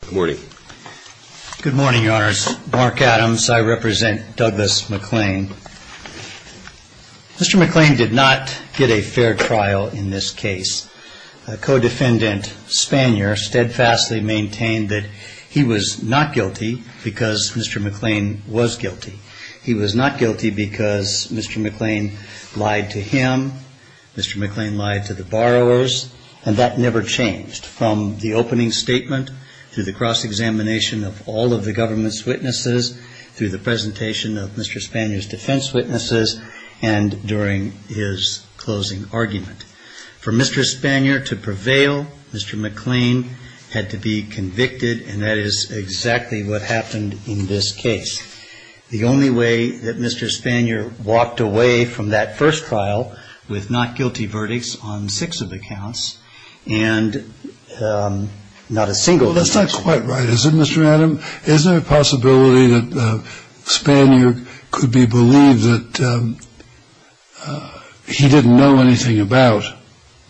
Good morning, Your Honors. Mark Adams. I represent Douglas McClain. Mr. McClain did not get a fair trial in this case. A co-defendant, Spanier, steadfastly maintained that he was not guilty because Mr. McClain was guilty. He was not guilty because Mr. McClain lied to him, Mr. McClain lied to the borrowers, and that never changed from the opening statement to the cross-examination of all of the government's witnesses to the presentation of Mr. Spanier's defense witnesses and during his closing argument. For Mr. Spanier to prevail, Mr. McClain had to be convicted, and that is exactly what happened in this case. The only way that Mr. Spanier walked away from that first trial with not guilty verdicts on six of the counts and not a single conviction. Well, that's not quite right, is it, Mr. Adams? Is there a possibility that Spanier could be believed that he didn't know anything about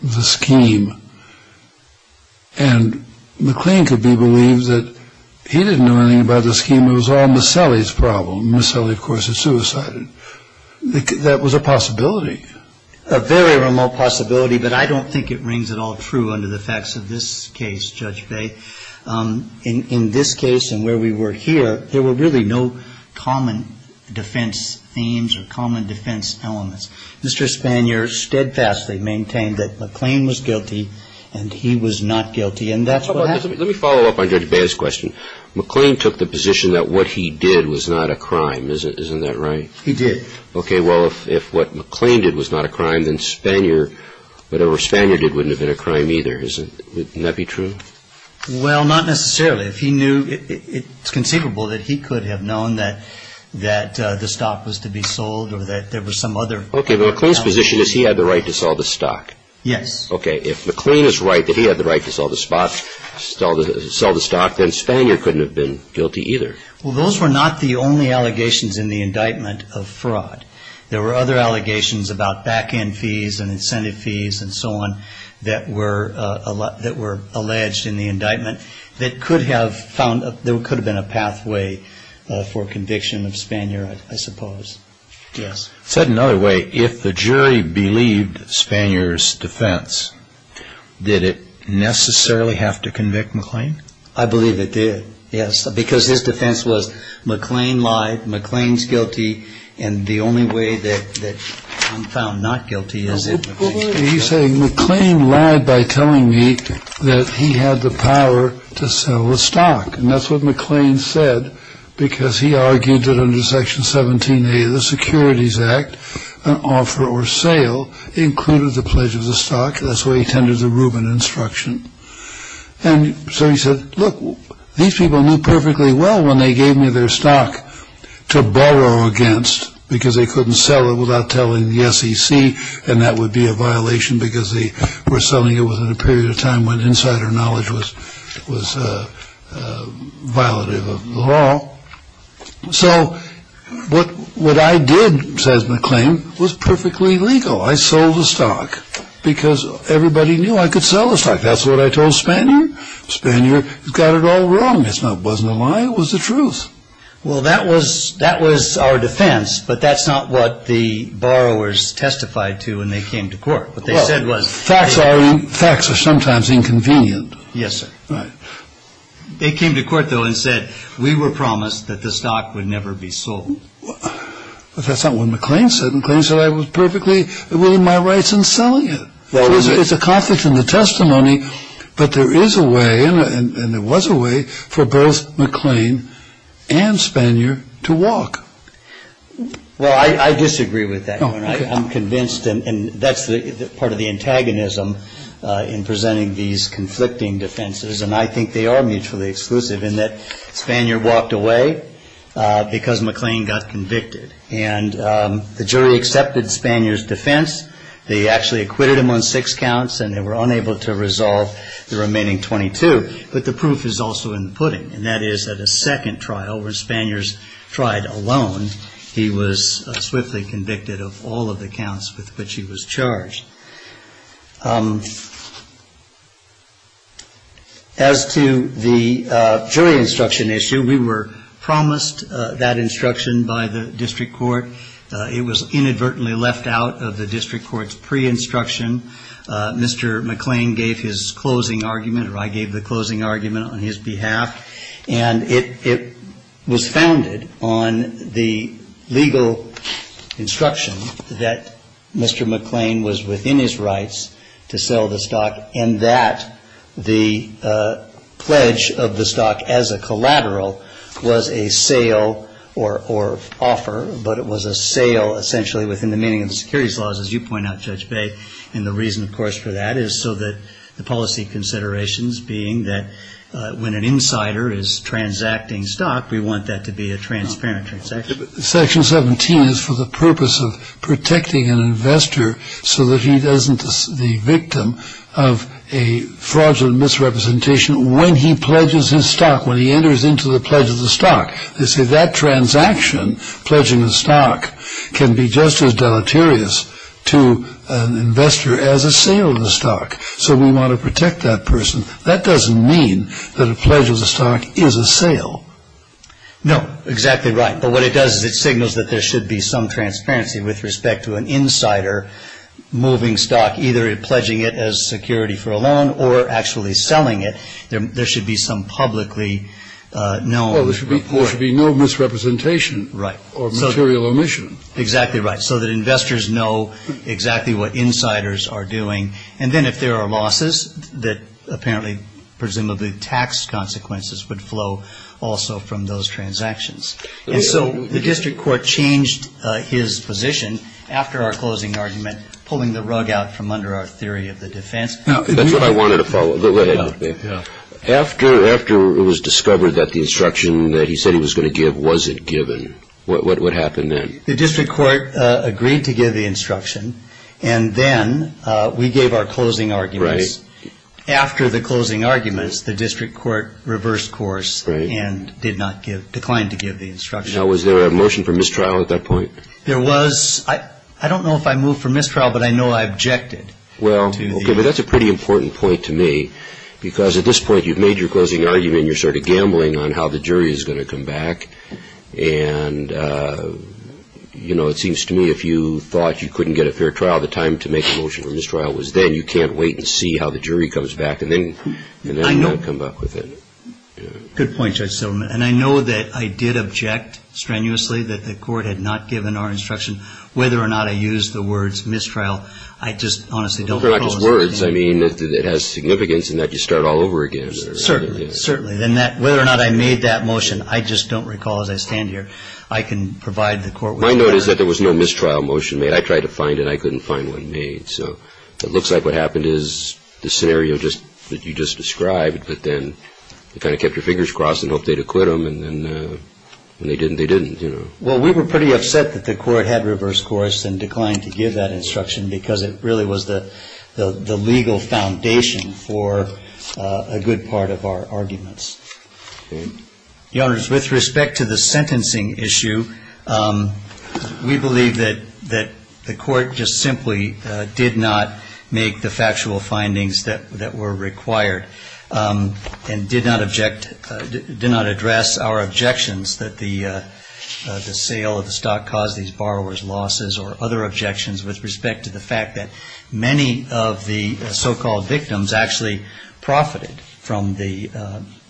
the scheme and McClain could be believed that he didn't know anything about the scheme? It was all Maselli's problem. Maselli, of course, had suicided. That was a possibility. A very remote possibility, but I don't think it rings at all true under the facts of this case, Judge Bay. In this case and where we were here, there were really no common defense themes or common defense elements. Mr. Spanier steadfastly maintained that McClain was guilty and he was not guilty, and that's what happened. Let me follow up on Judge Bay's question. McClain took the position that what he did was not a crime. Isn't that right? He did. Okay. Well, if what McClain did was not a crime, then Spanier, whatever Spanier did, wouldn't have been a crime either. Wouldn't that be true? Well, not necessarily. It's conceivable that he could have known that the stock was to be sold or that there was some other. Okay. But McClain's position is he had the right to sell the stock. Yes. Okay. If McClain is right that he had the right to sell the stock, then Spanier couldn't have been guilty either. Well, those were not the only allegations in the indictment of fraud. There were other allegations about back-end fees and incentive fees and so on that were alleged in the indictment that could have been a pathway for conviction of Spanier, I suppose. Yes. Said another way, if the jury believed Spanier's defense, did it necessarily have to convict McClain? I believe it did, yes, because his defense was McClain lied, McClain's guilty, and the only way that I'm found not guilty is if McClain's guilty. He's saying McClain lied by telling me that he had the power to sell the stock, and that's what McClain said because he argued that under Section 17A of the Securities Act, an offer or sale included the pledge of the stock. That's why he tended to Rubin instruction. And so he said, look, these people knew perfectly well when they gave me their stock to borrow against because they couldn't sell it without telling the SEC, and that would be a violation because they were selling it within a period of time when insider knowledge was violative of the law. So what I did, says McClain, was perfectly legal. I sold the stock because everybody knew I could sell the stock. That's what I told Spanier. Spanier got it all wrong. It wasn't a lie. It was the truth. Well, that was our defense, but that's not what the borrowers testified to when they came to court. What they said was facts are sometimes inconvenient. Yes, sir. Right. They came to court, though, and said we were promised that the stock would never be sold. Well, that's not what McClain said. McClain said I was perfectly within my rights in selling it. It's a conflict in the testimony, but there is a way, and there was a way, for both McClain and Spanier to walk. Well, I disagree with that. I'm convinced, and that's part of the antagonism in presenting these conflicting defenses, and I think they are mutually exclusive in that Spanier walked away because McClain got convicted, and the jury accepted Spanier's defense. They actually acquitted him on six counts, and they were unable to resolve the remaining 22, but the proof is also in the pudding, and that is that a second trial where Spanier's tried alone, he was swiftly convicted of all of the counts with which he was charged. As to the jury instruction issue, we were promised that instruction by the district court. It was inadvertently left out of the district court's pre-instruction. Mr. McClain gave his closing argument, or I gave the closing argument on his behalf, and it was founded on the legal instruction that Mr. McClain was within his rights to sell the stock and that the pledge of the stock as a collateral was a sale or offer, but it was a sale essentially within the meaning of the securities laws, as you point out, Judge Bay, and the reason, of course, for that is so that the policy considerations being that when an insider is transacting stock, we want that to be a transparent transaction. Section 17 is for the purpose of protecting an investor so that he doesn't be the victim of a fraudulent misrepresentation when he pledges his stock, when he enters into the pledge of the stock. They say that transaction, pledging the stock, can be just as deleterious to an investor as a sale of the stock, so we want to protect that person. That doesn't mean that a pledge of the stock is a sale. No, exactly right. But what it does is it signals that there should be some transparency with respect to an insider moving stock, either pledging it as security for a loan or actually selling it. There should be some publicly known report. Well, there should be no misrepresentation. Right. Or material omission. Exactly right, so that investors know exactly what insiders are doing, and then if there are losses that apparently presumably tax consequences would flow also from those transactions. And so the district court changed his position after our closing argument, pulling the rug out from under our theory of the defense. That's what I wanted to follow. Go ahead. After it was discovered that the instruction that he said he was going to give wasn't given, what happened then? The district court agreed to give the instruction, and then we gave our closing arguments. Right. After the closing arguments, the district court reversed course and declined to give the instruction. Now, was there a motion for mistrial at that point? There was. I don't know if I moved for mistrial, but I know I objected. Well, okay, but that's a pretty important point to me, because at this point you've made your closing argument and you're sort of gambling on how the jury is going to come back. And, you know, it seems to me if you thought you couldn't get a fair trial, the time to make a motion for mistrial was then. You can't wait and see how the jury comes back, and then you don't come back with it. Good point, Judge Silverman. And I know that I did object strenuously that the court had not given our instruction. Whether or not I used the words mistrial, I just honestly don't recall. They're not just words. I mean, it has significance in that you start all over again. Certainly. Certainly. Whether or not I made that motion, I just don't recall as I stand here. I can provide the court with that. My note is that there was no mistrial motion made. I tried to find it. I couldn't find one made. So it looks like what happened is the scenario that you just described, but then you kind of kept your fingers crossed and hoped they'd acquit them. And when they didn't, they didn't, you know. Well, we were pretty upset that the court had reversed course and declined to give that instruction because it really was the legal foundation for a good part of our arguments. Okay. Your Honors, with respect to the sentencing issue, we believe that the court just simply did not make the factual findings that were required and did not address our objections that the sale of the stock caused these borrowers losses or other objections with respect to the fact that many of the so-called victims actually profited from the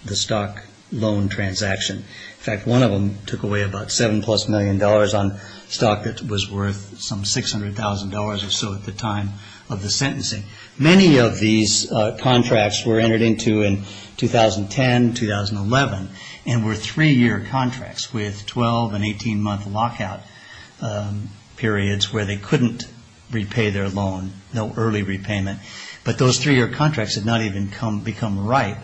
stock loan transaction. In fact, one of them took away about $7-plus million on stock that was worth some $600,000 or so at the time of the sentencing. Many of these contracts were entered into in 2010, 2011, and were three-year contracts with 12- and 18-month lockout periods where they couldn't repay their loan, no early repayment. But those three-year contracts had not even become ripe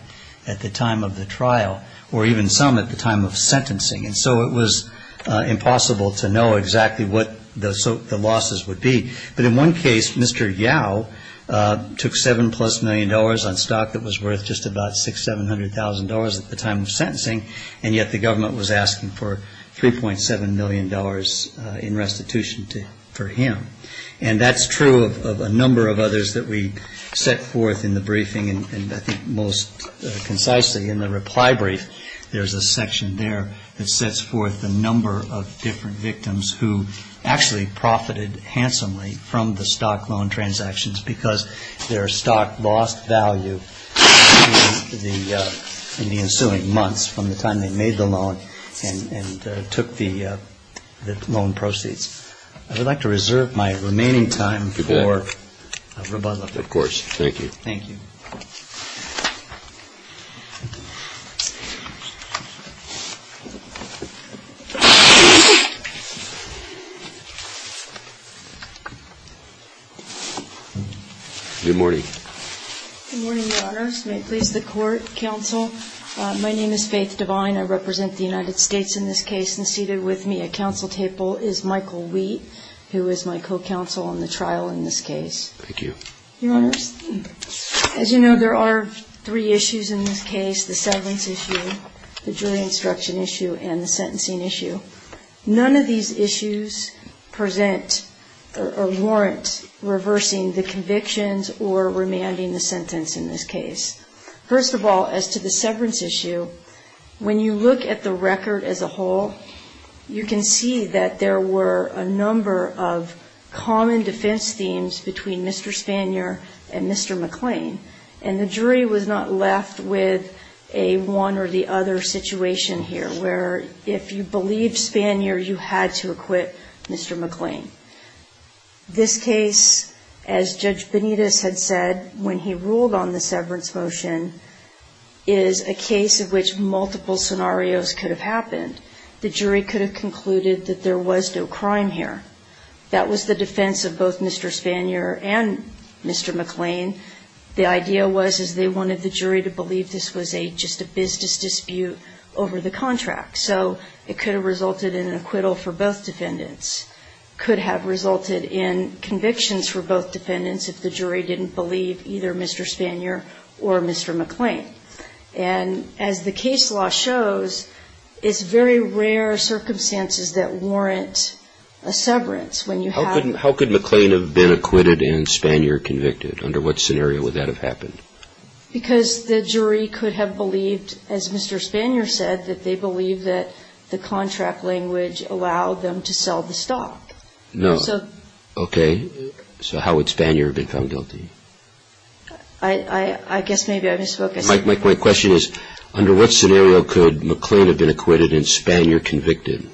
at the time of the trial or even some at the time of sentencing. And so it was impossible to know exactly what the losses would be. But in one case, Mr. Yao took $7-plus million on stock that was worth just about $600,000, $700,000 at the time of sentencing, and yet the government was asking for $3.7 million in restitution for him. And that's true of a number of others that we set forth in the briefing and I think most concisely in the reply brief. There's a section there that sets forth the number of different victims who actually profited handsomely from the stock loan transactions because their stock lost value in the ensuing months from the time they made the loan and took the loan proceeds. I would like to reserve my remaining time for rebuttal. Thank you. Thank you. Good morning, Your Honors. May it please the Court, Counsel. My name is Faith Devine. I represent the United States in this case, and seated with me at counsel table is Michael Wheat, who is my co-counsel on the trial in this case. Thank you. Your Honors, as you know, there are three issues in this case, the severance issue, the jury instruction issue, and the sentencing issue. None of these issues present or warrant reversing the convictions or remanding the sentence in this case. First of all, as to the severance issue, when you look at the record as a whole, you can see that there were a number of common defense themes between Mr. Spanier and Mr. McClain, and the jury was not left with a one or the other situation here where if you believed Spanier, you had to acquit Mr. McClain. This case, as Judge Benitez had said when he ruled on the severance motion, is a case in which multiple scenarios could have happened. The jury could have concluded that there was no crime here. That was the defense of both Mr. Spanier and Mr. McClain. The idea was they wanted the jury to believe this was just a business dispute over the contract, so it could have resulted in an acquittal for both defendants. It could have resulted in convictions for both defendants if the jury didn't believe either Mr. Spanier or Mr. McClain. And as the case law shows, it's very rare circumstances that warrant a severance. How could McClain have been acquitted and Spanier convicted? Under what scenario would that have happened? Because the jury could have believed, as Mr. Spanier said, that they believed that the contract language allowed them to sell the stock. No. Okay. So how would Spanier have been found guilty? I guess maybe I misspoke. My question is, under what scenario could McClain have been acquitted and Spanier convicted?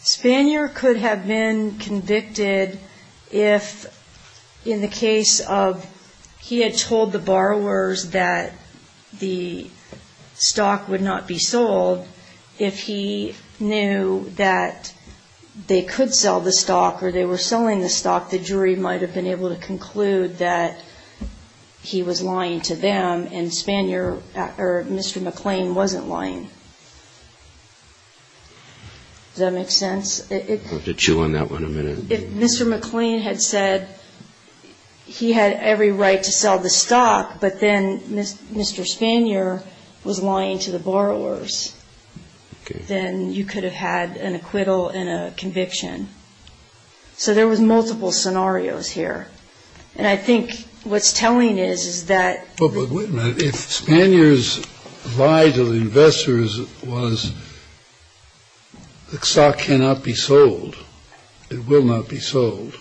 Spanier could have been convicted if, in the case of he had told the borrowers that the stock would not be sold, if he knew that they could sell the stock or they were selling the stock, the jury might have been able to conclude that he was lying to them and Mr. McClain wasn't lying. Does that make sense? I'll have to chew on that one a minute. If Mr. McClain had said he had every right to sell the stock, but then Mr. Spanier was lying to the borrowers, then you could have had an acquittal and a conviction. So there was multiple scenarios here. And I think what's telling is, is that the jury could have been able to conclude that the stock would not be sold,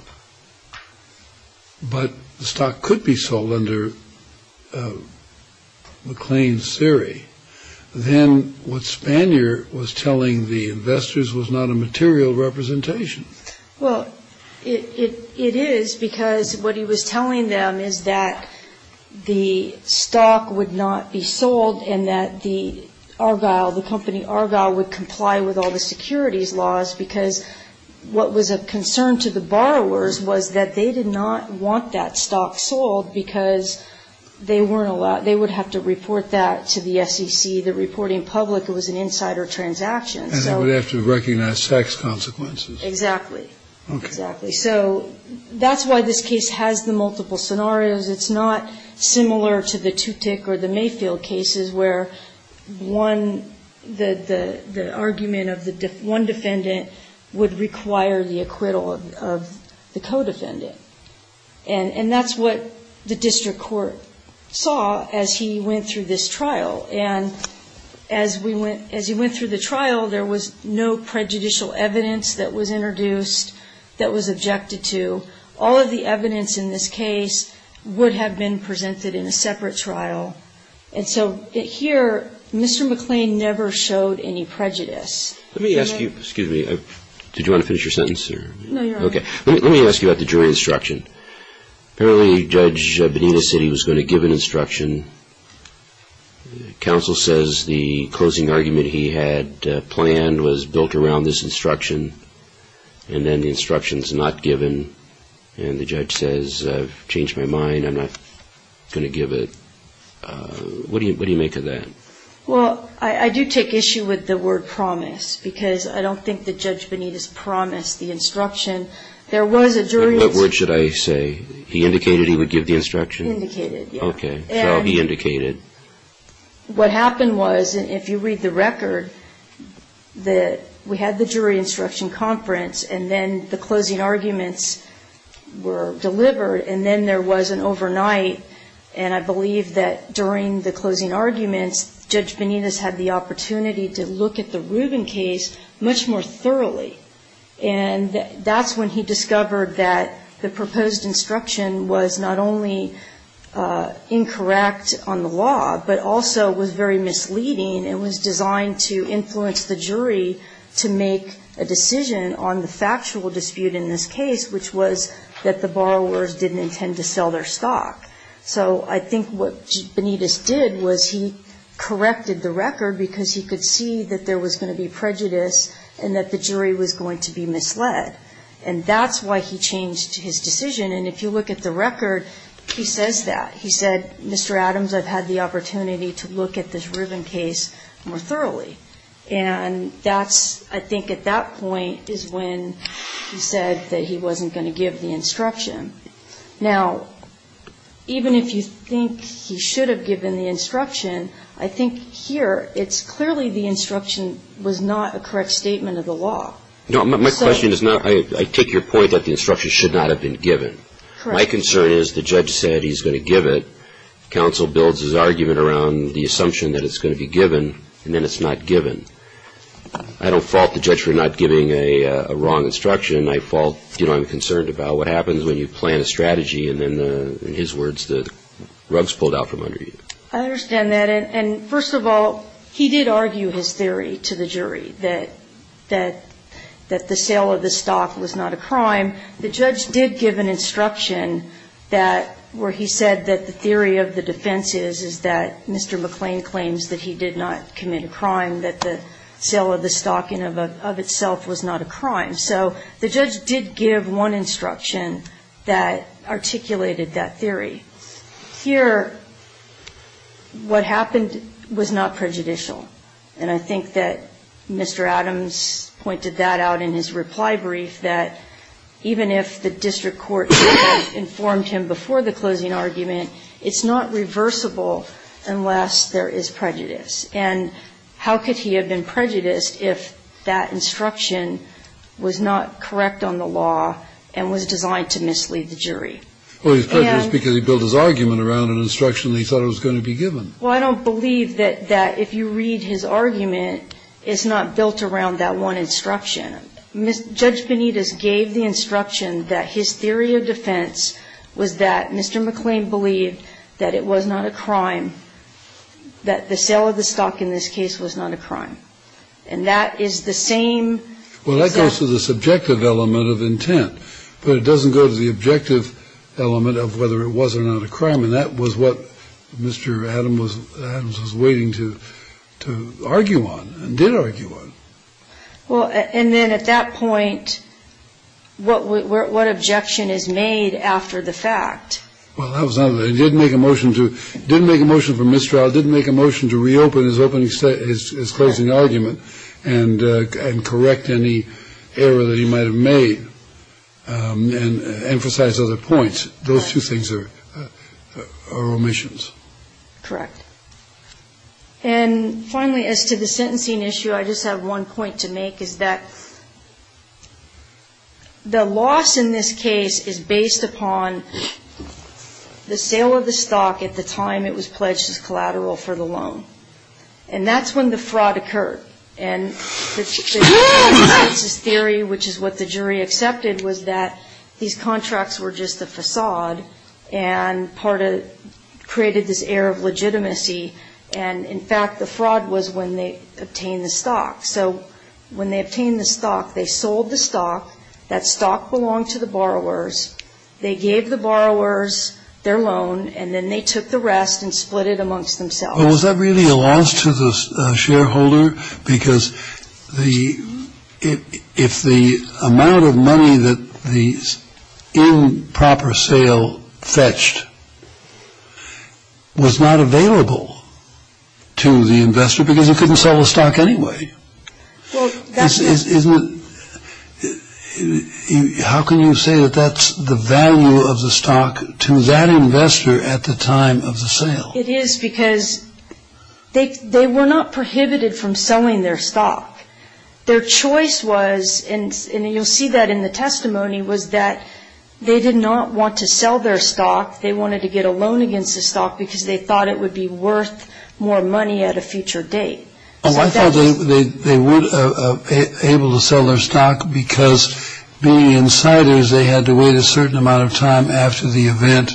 but the stock could be sold under McClain's theory. Then what Spanier was telling the investors was not a material representation. Well, it is, because what he was telling them is that the stock would not be sold and that the Argyle, the company Argyle would comply with all the securities laws because what was of concern to the borrowers was that they did not want that stock sold because they weren't allowed. They would have to report that to the SEC. The reporting public, it was an insider transaction. And they would have to recognize tax consequences. Exactly. Okay. Exactly. So that's why this case has the multiple scenarios. It's not similar to the Tutick or the Mayfield cases where one, the argument of one defendant would require the acquittal of the co-defendant. And that's what the district court saw as he went through this trial. And as he went through the trial, there was no prejudicial evidence that was introduced, that was objected to. All of the evidence in this case would have been presented in a separate trial. And so here, Mr. McClain never showed any prejudice. Let me ask you, excuse me, did you want to finish your sentence? No, you're on. Okay. Let me ask you about the jury instruction. Apparently Judge Bonita said he was going to give an instruction. Counsel says the closing argument he had planned was built around this instruction. And then the instruction is not given. And the judge says, I've changed my mind. I'm not going to give it. What do you make of that? Well, I do take issue with the word promise, because I don't think that Judge Bonita's promised the instruction. There was a jury instruction. What word should I say? He indicated he would give the instruction? Indicated, yeah. Okay. So he indicated. What happened was, if you read the record, that we had the jury instruction conference, and then the closing arguments were delivered, and then there was an overnight. And I believe that during the closing arguments, Judge Bonita's had the opportunity to look at the Rubin case much more thoroughly. And that's when he discovered that the proposed instruction was not only incorrect on the law, but also was very misleading. It was designed to influence the jury to make a decision on the factual dispute in this case, which was that the borrowers didn't intend to sell their stock. So I think what Bonita's did was he corrected the record, because he could see that there was going to be prejudice and that the jury was going to be misled. And that's why he changed his decision. And if you look at the record, he says that. And he said, Mr. Adams, I've had the opportunity to look at this Rubin case more thoroughly. And that's, I think, at that point is when he said that he wasn't going to give the instruction. Now, even if you think he should have given the instruction, I think here it's clearly the instruction was not a correct statement of the law. No, my question is not. I take your point that the instruction should not have been given. Correct. My concern is the judge said he's going to give it. Counsel builds his argument around the assumption that it's going to be given, and then it's not given. I don't fault the judge for not giving a wrong instruction. I fault, you know, I'm concerned about what happens when you plan a strategy and then, in his words, the rug's pulled out from under you. I understand that. And first of all, he did argue his theory to the jury that the sale of the stock was not a crime. The judge did give an instruction that where he said that the theory of the defense is, is that Mr. McClain claims that he did not commit a crime, that the sale of the stock in and of itself was not a crime. So the judge did give one instruction that articulated that theory. Here, what happened was not prejudicial. And I think that Mr. Adams pointed that out in his reply brief, that even if the district court informed him before the closing argument, it's not reversible unless there is prejudice. And how could he have been prejudiced if that instruction was not correct on the law and was designed to mislead the jury? Well, he was prejudiced because he built his argument around an instruction that he thought it was going to be given. Well, I don't believe that if you read his argument, it's not built around that one instruction. Judge Benitez gave the instruction that his theory of defense was that Mr. McClain believed that it was not a crime, that the sale of the stock in this case was not a crime. And that is the same. Well, that goes to the subjective element of intent. But it doesn't go to the objective element of whether it was or not a crime. And that was what Mr. Adams was waiting to argue on and did argue on. Well, and then at that point, what objection is made after the fact? Well, he did make a motion for mistrial. He did make a motion to reopen his closing argument and correct any error that he might have made and emphasize other points. Those two things are omissions. Correct. And finally, as to the sentencing issue, I just have one point to make, is that the loss in this case is based upon the sale of the stock at the time it was pledged as collateral for the loan. And that's when the fraud occurred. And the consensus theory, which is what the jury accepted, was that these contracts were just a facade and part of ñ created this air of legitimacy. And, in fact, the fraud was when they obtained the stock. So when they obtained the stock, they sold the stock. That stock belonged to the borrowers. They gave the borrowers their loan, and then they took the rest and split it amongst themselves. But was that really a loss to the shareholder? Because if the amount of money that the improper sale fetched was not available to the investor because he couldn't sell the stock anyway, isn't it ñ how can you say that that's the value of the stock to that investor at the time of the sale? It is because they were not prohibited from selling their stock. Their choice was, and you'll see that in the testimony, was that they did not want to sell their stock. They wanted to get a loan against the stock because they thought it would be worth more money at a future date. Oh, I thought they were able to sell their stock because being insiders, they had to wait a certain amount of time after the event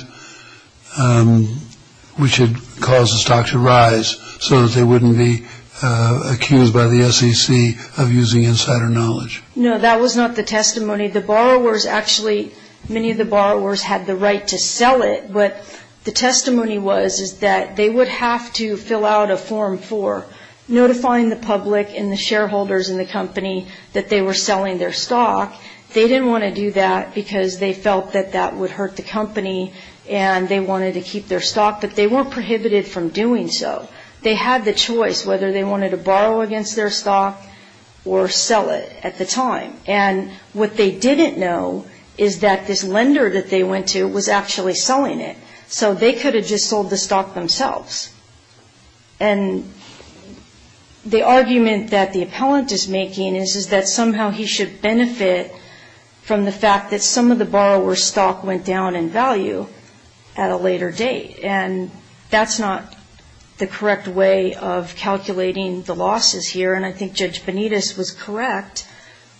which had caused the stock to rise so that they wouldn't be accused by the SEC of using insider knowledge. No, that was not the testimony. The borrowers actually ñ many of the borrowers had the right to sell it, but the testimony was that they would have to fill out a Form 4, notifying the public and the shareholders in the company that they were selling their stock. They didn't want to do that because they felt that that would hurt the company and they wanted to keep their stock, but they weren't prohibited from doing so. They had the choice whether they wanted to borrow against their stock or sell it at the time. And what they didn't know is that this lender that they went to was actually selling it, so they could have just sold the stock themselves. And the argument that the appellant is making is that somehow he should benefit from the fact that some of the borrower's stock went down in value at a later date, and that's not the correct way of calculating the losses here. And I think Judge Benitez was correct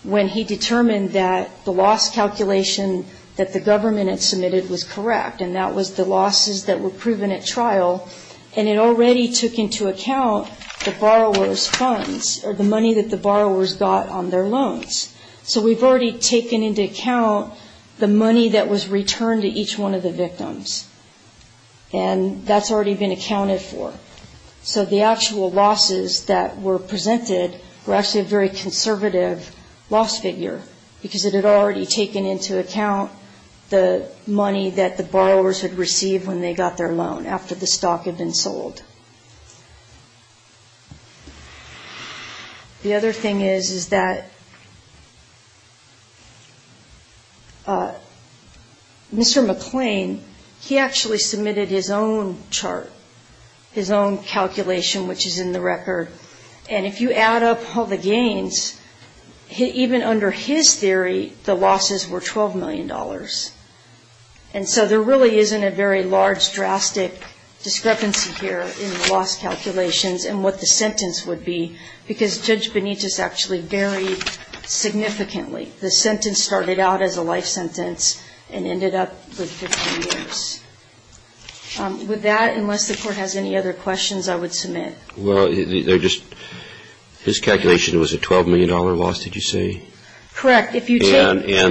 when he determined that the loss calculation that the government had submitted was correct, and that was the losses that were proven at trial. And it already took into account the borrower's funds, or the money that the borrowers got on their loans. So we've already taken into account the money that was returned to each one of the victims, and that's already been accounted for. So the actual losses that were presented were actually a very conservative loss figure because it had already taken into account the money that the borrowers had received when they got their loan after the stock had been sold. The other thing is, is that Mr. McClain, he actually submitted his own chart, his own calculation, which is in the record. And if you add up all the gains, even under his theory, the losses were $12 million. And so there really isn't a very large, drastic discrepancy here in the loss calculations and what the sentence would be, because Judge Benitez actually varied significantly. The sentence started out as a life sentence and ended up with 15 years. With that, unless the Court has any other questions, I would submit. Well, they're just, his calculation was a $12 million loss, did you say? Correct. And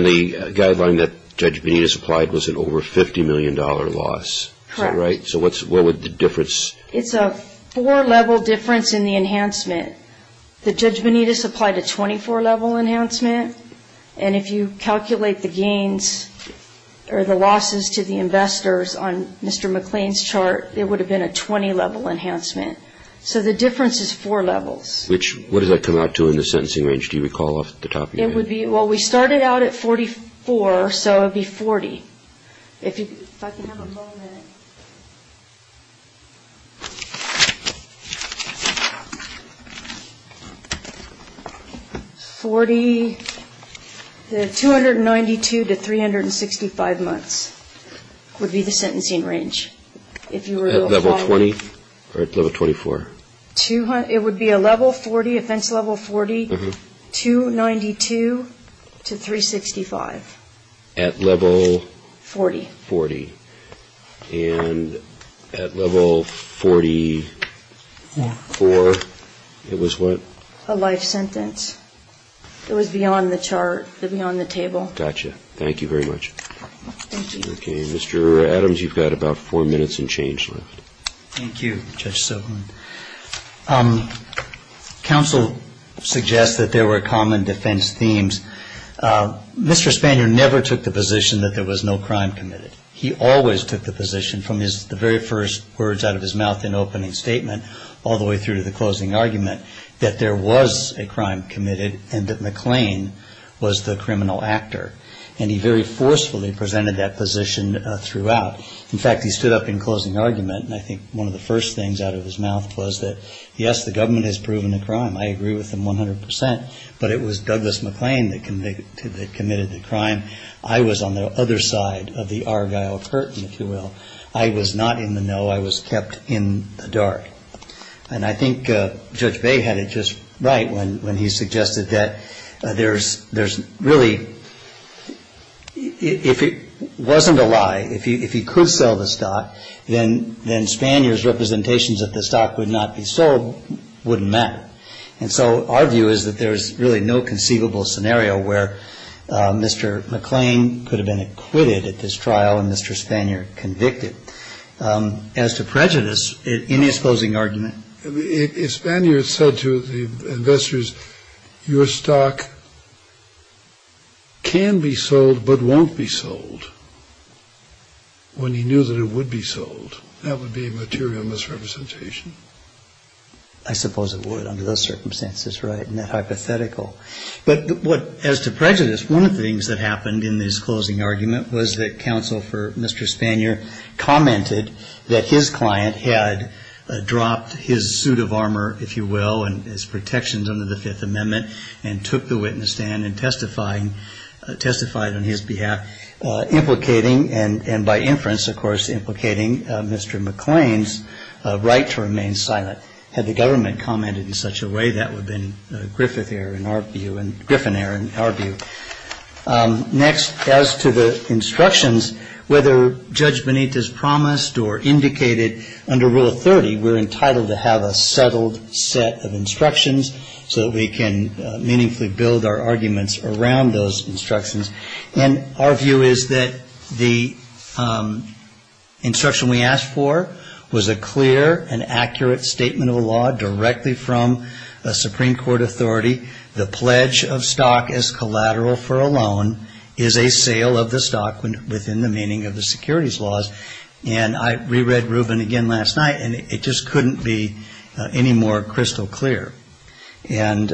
the guideline that Judge Benitez applied was an over $50 million loss, is that right? Correct. So what would the difference be? It's a four-level difference in the enhancement. The Judge Benitez applied a 24-level enhancement, and if you calculate the gains or the losses to the investors on Mr. McClain's chart, it would have been a 20-level enhancement. So the difference is four levels. Which, what does that come out to in the sentencing range? Do you recall off the top of your head? It would be, well, we started out at 44, so it would be 40. If I can have a moment. Forty, 292 to 365 months would be the sentencing range. At level 20 or at level 24? It would be a level 40, offense level 40, 292 to 365. At level? Forty. Forty. And at level 44, it was what? A life sentence. It was beyond the chart, beyond the table. Gotcha. Thank you very much. Thank you. Okay, Mr. Adams, you've got about four minutes and change left. Thank you, Judge Sobeland. Counsel suggests that there were common defense themes. Mr. Spanier never took the position that there was no crime committed. He always took the position from the very first words out of his mouth in opening statement all the way through to the closing argument that there was a crime committed and that McClain was the criminal actor. And he very forcefully presented that position throughout. In fact, he stood up in closing argument, and I think one of the first things out of his mouth was that, yes, the government has proven a crime. I agree with him 100 percent, but it was Douglas McClain that committed the crime. I was on the other side of the Argyle Curtain, if you will. I was not in the know. I was kept in the dark. And I think Judge Bay had it just right when he suggested that there's really, if it wasn't a lie, if he could sell the stock, then Spanier's representations that the stock would not be sold wouldn't matter. And so our view is that there's really no conceivable scenario where Mr. McClain could have been acquitted at this trial and Mr. Spanier convicted as to prejudice in his closing argument. If Spanier said to the investors, your stock can be sold but won't be sold, when he knew that it would be sold, that would be a material misrepresentation. I suppose it would under those circumstances, right, and that hypothetical. But as to prejudice, one of the things that happened in his closing argument was that counsel for Mr. Spanier commented that his client had dropped his suit of armor, if you will, and his protections under the Fifth Amendment, and took the witness stand and testified on his behalf, implicating, and by inference, of course, implicating Mr. McClain's right to remain silent. Had the government commented in such a way, that would have been Griffith error in our view and Griffin error in our view. Next, as to the instructions, whether Judge Benitez promised or indicated under Rule 30, we're entitled to have a settled set of instructions so that we can meaningfully build our arguments around those instructions. And our view is that the instruction we asked for was a clear and accurate statement of a law directly from a Supreme Court authority. The pledge of stock as collateral for a loan is a sale of the stock within the meaning of the securities laws. And I reread Rubin again last night, and it just couldn't be any more crystal clear. And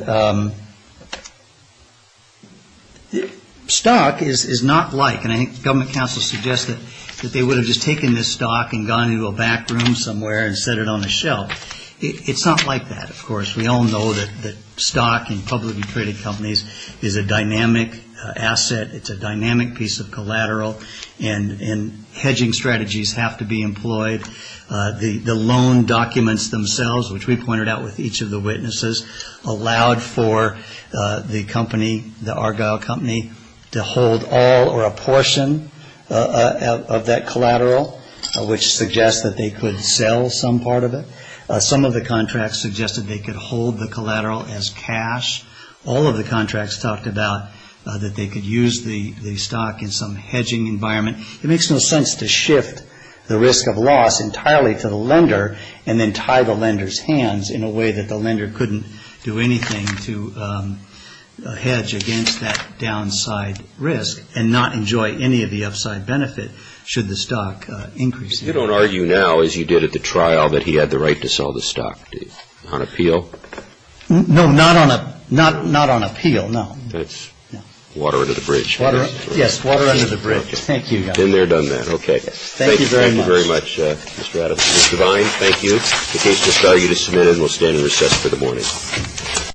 stock is not like, and I think government counsel suggested that they would have just taken this stock and gone into a back room somewhere and set it on a shelf. It's not like that, of course. We all know that stock in publicly traded companies is a dynamic asset. It's a dynamic piece of collateral, and hedging strategies have to be employed. The loan documents themselves, which we pointed out with each of the witnesses, allowed for the company, the Argyle Company, to hold all or a portion of that collateral, which suggests that they could sell some part of it. Some of the contracts suggested they could hold the collateral as cash. All of the contracts talked about that they could use the stock in some hedging environment. It makes no sense to shift the risk of loss entirely to the lender and then tie the lender's hands in a way that the lender couldn't do anything to hedge against that downside risk and not enjoy any of the upside benefit should the stock increase. You don't argue now, as you did at the trial, that he had the right to sell the stock, do you? On appeal? No, not on appeal, no. That's water under the bridge. Yes, water under the bridge. Thank you, guys. Been there, done that. Okay. Thank you very much. Thank you very much, Mr. Adams. Mr. Vine, thank you. The case is value to submit, and we'll stand and recess for the morning.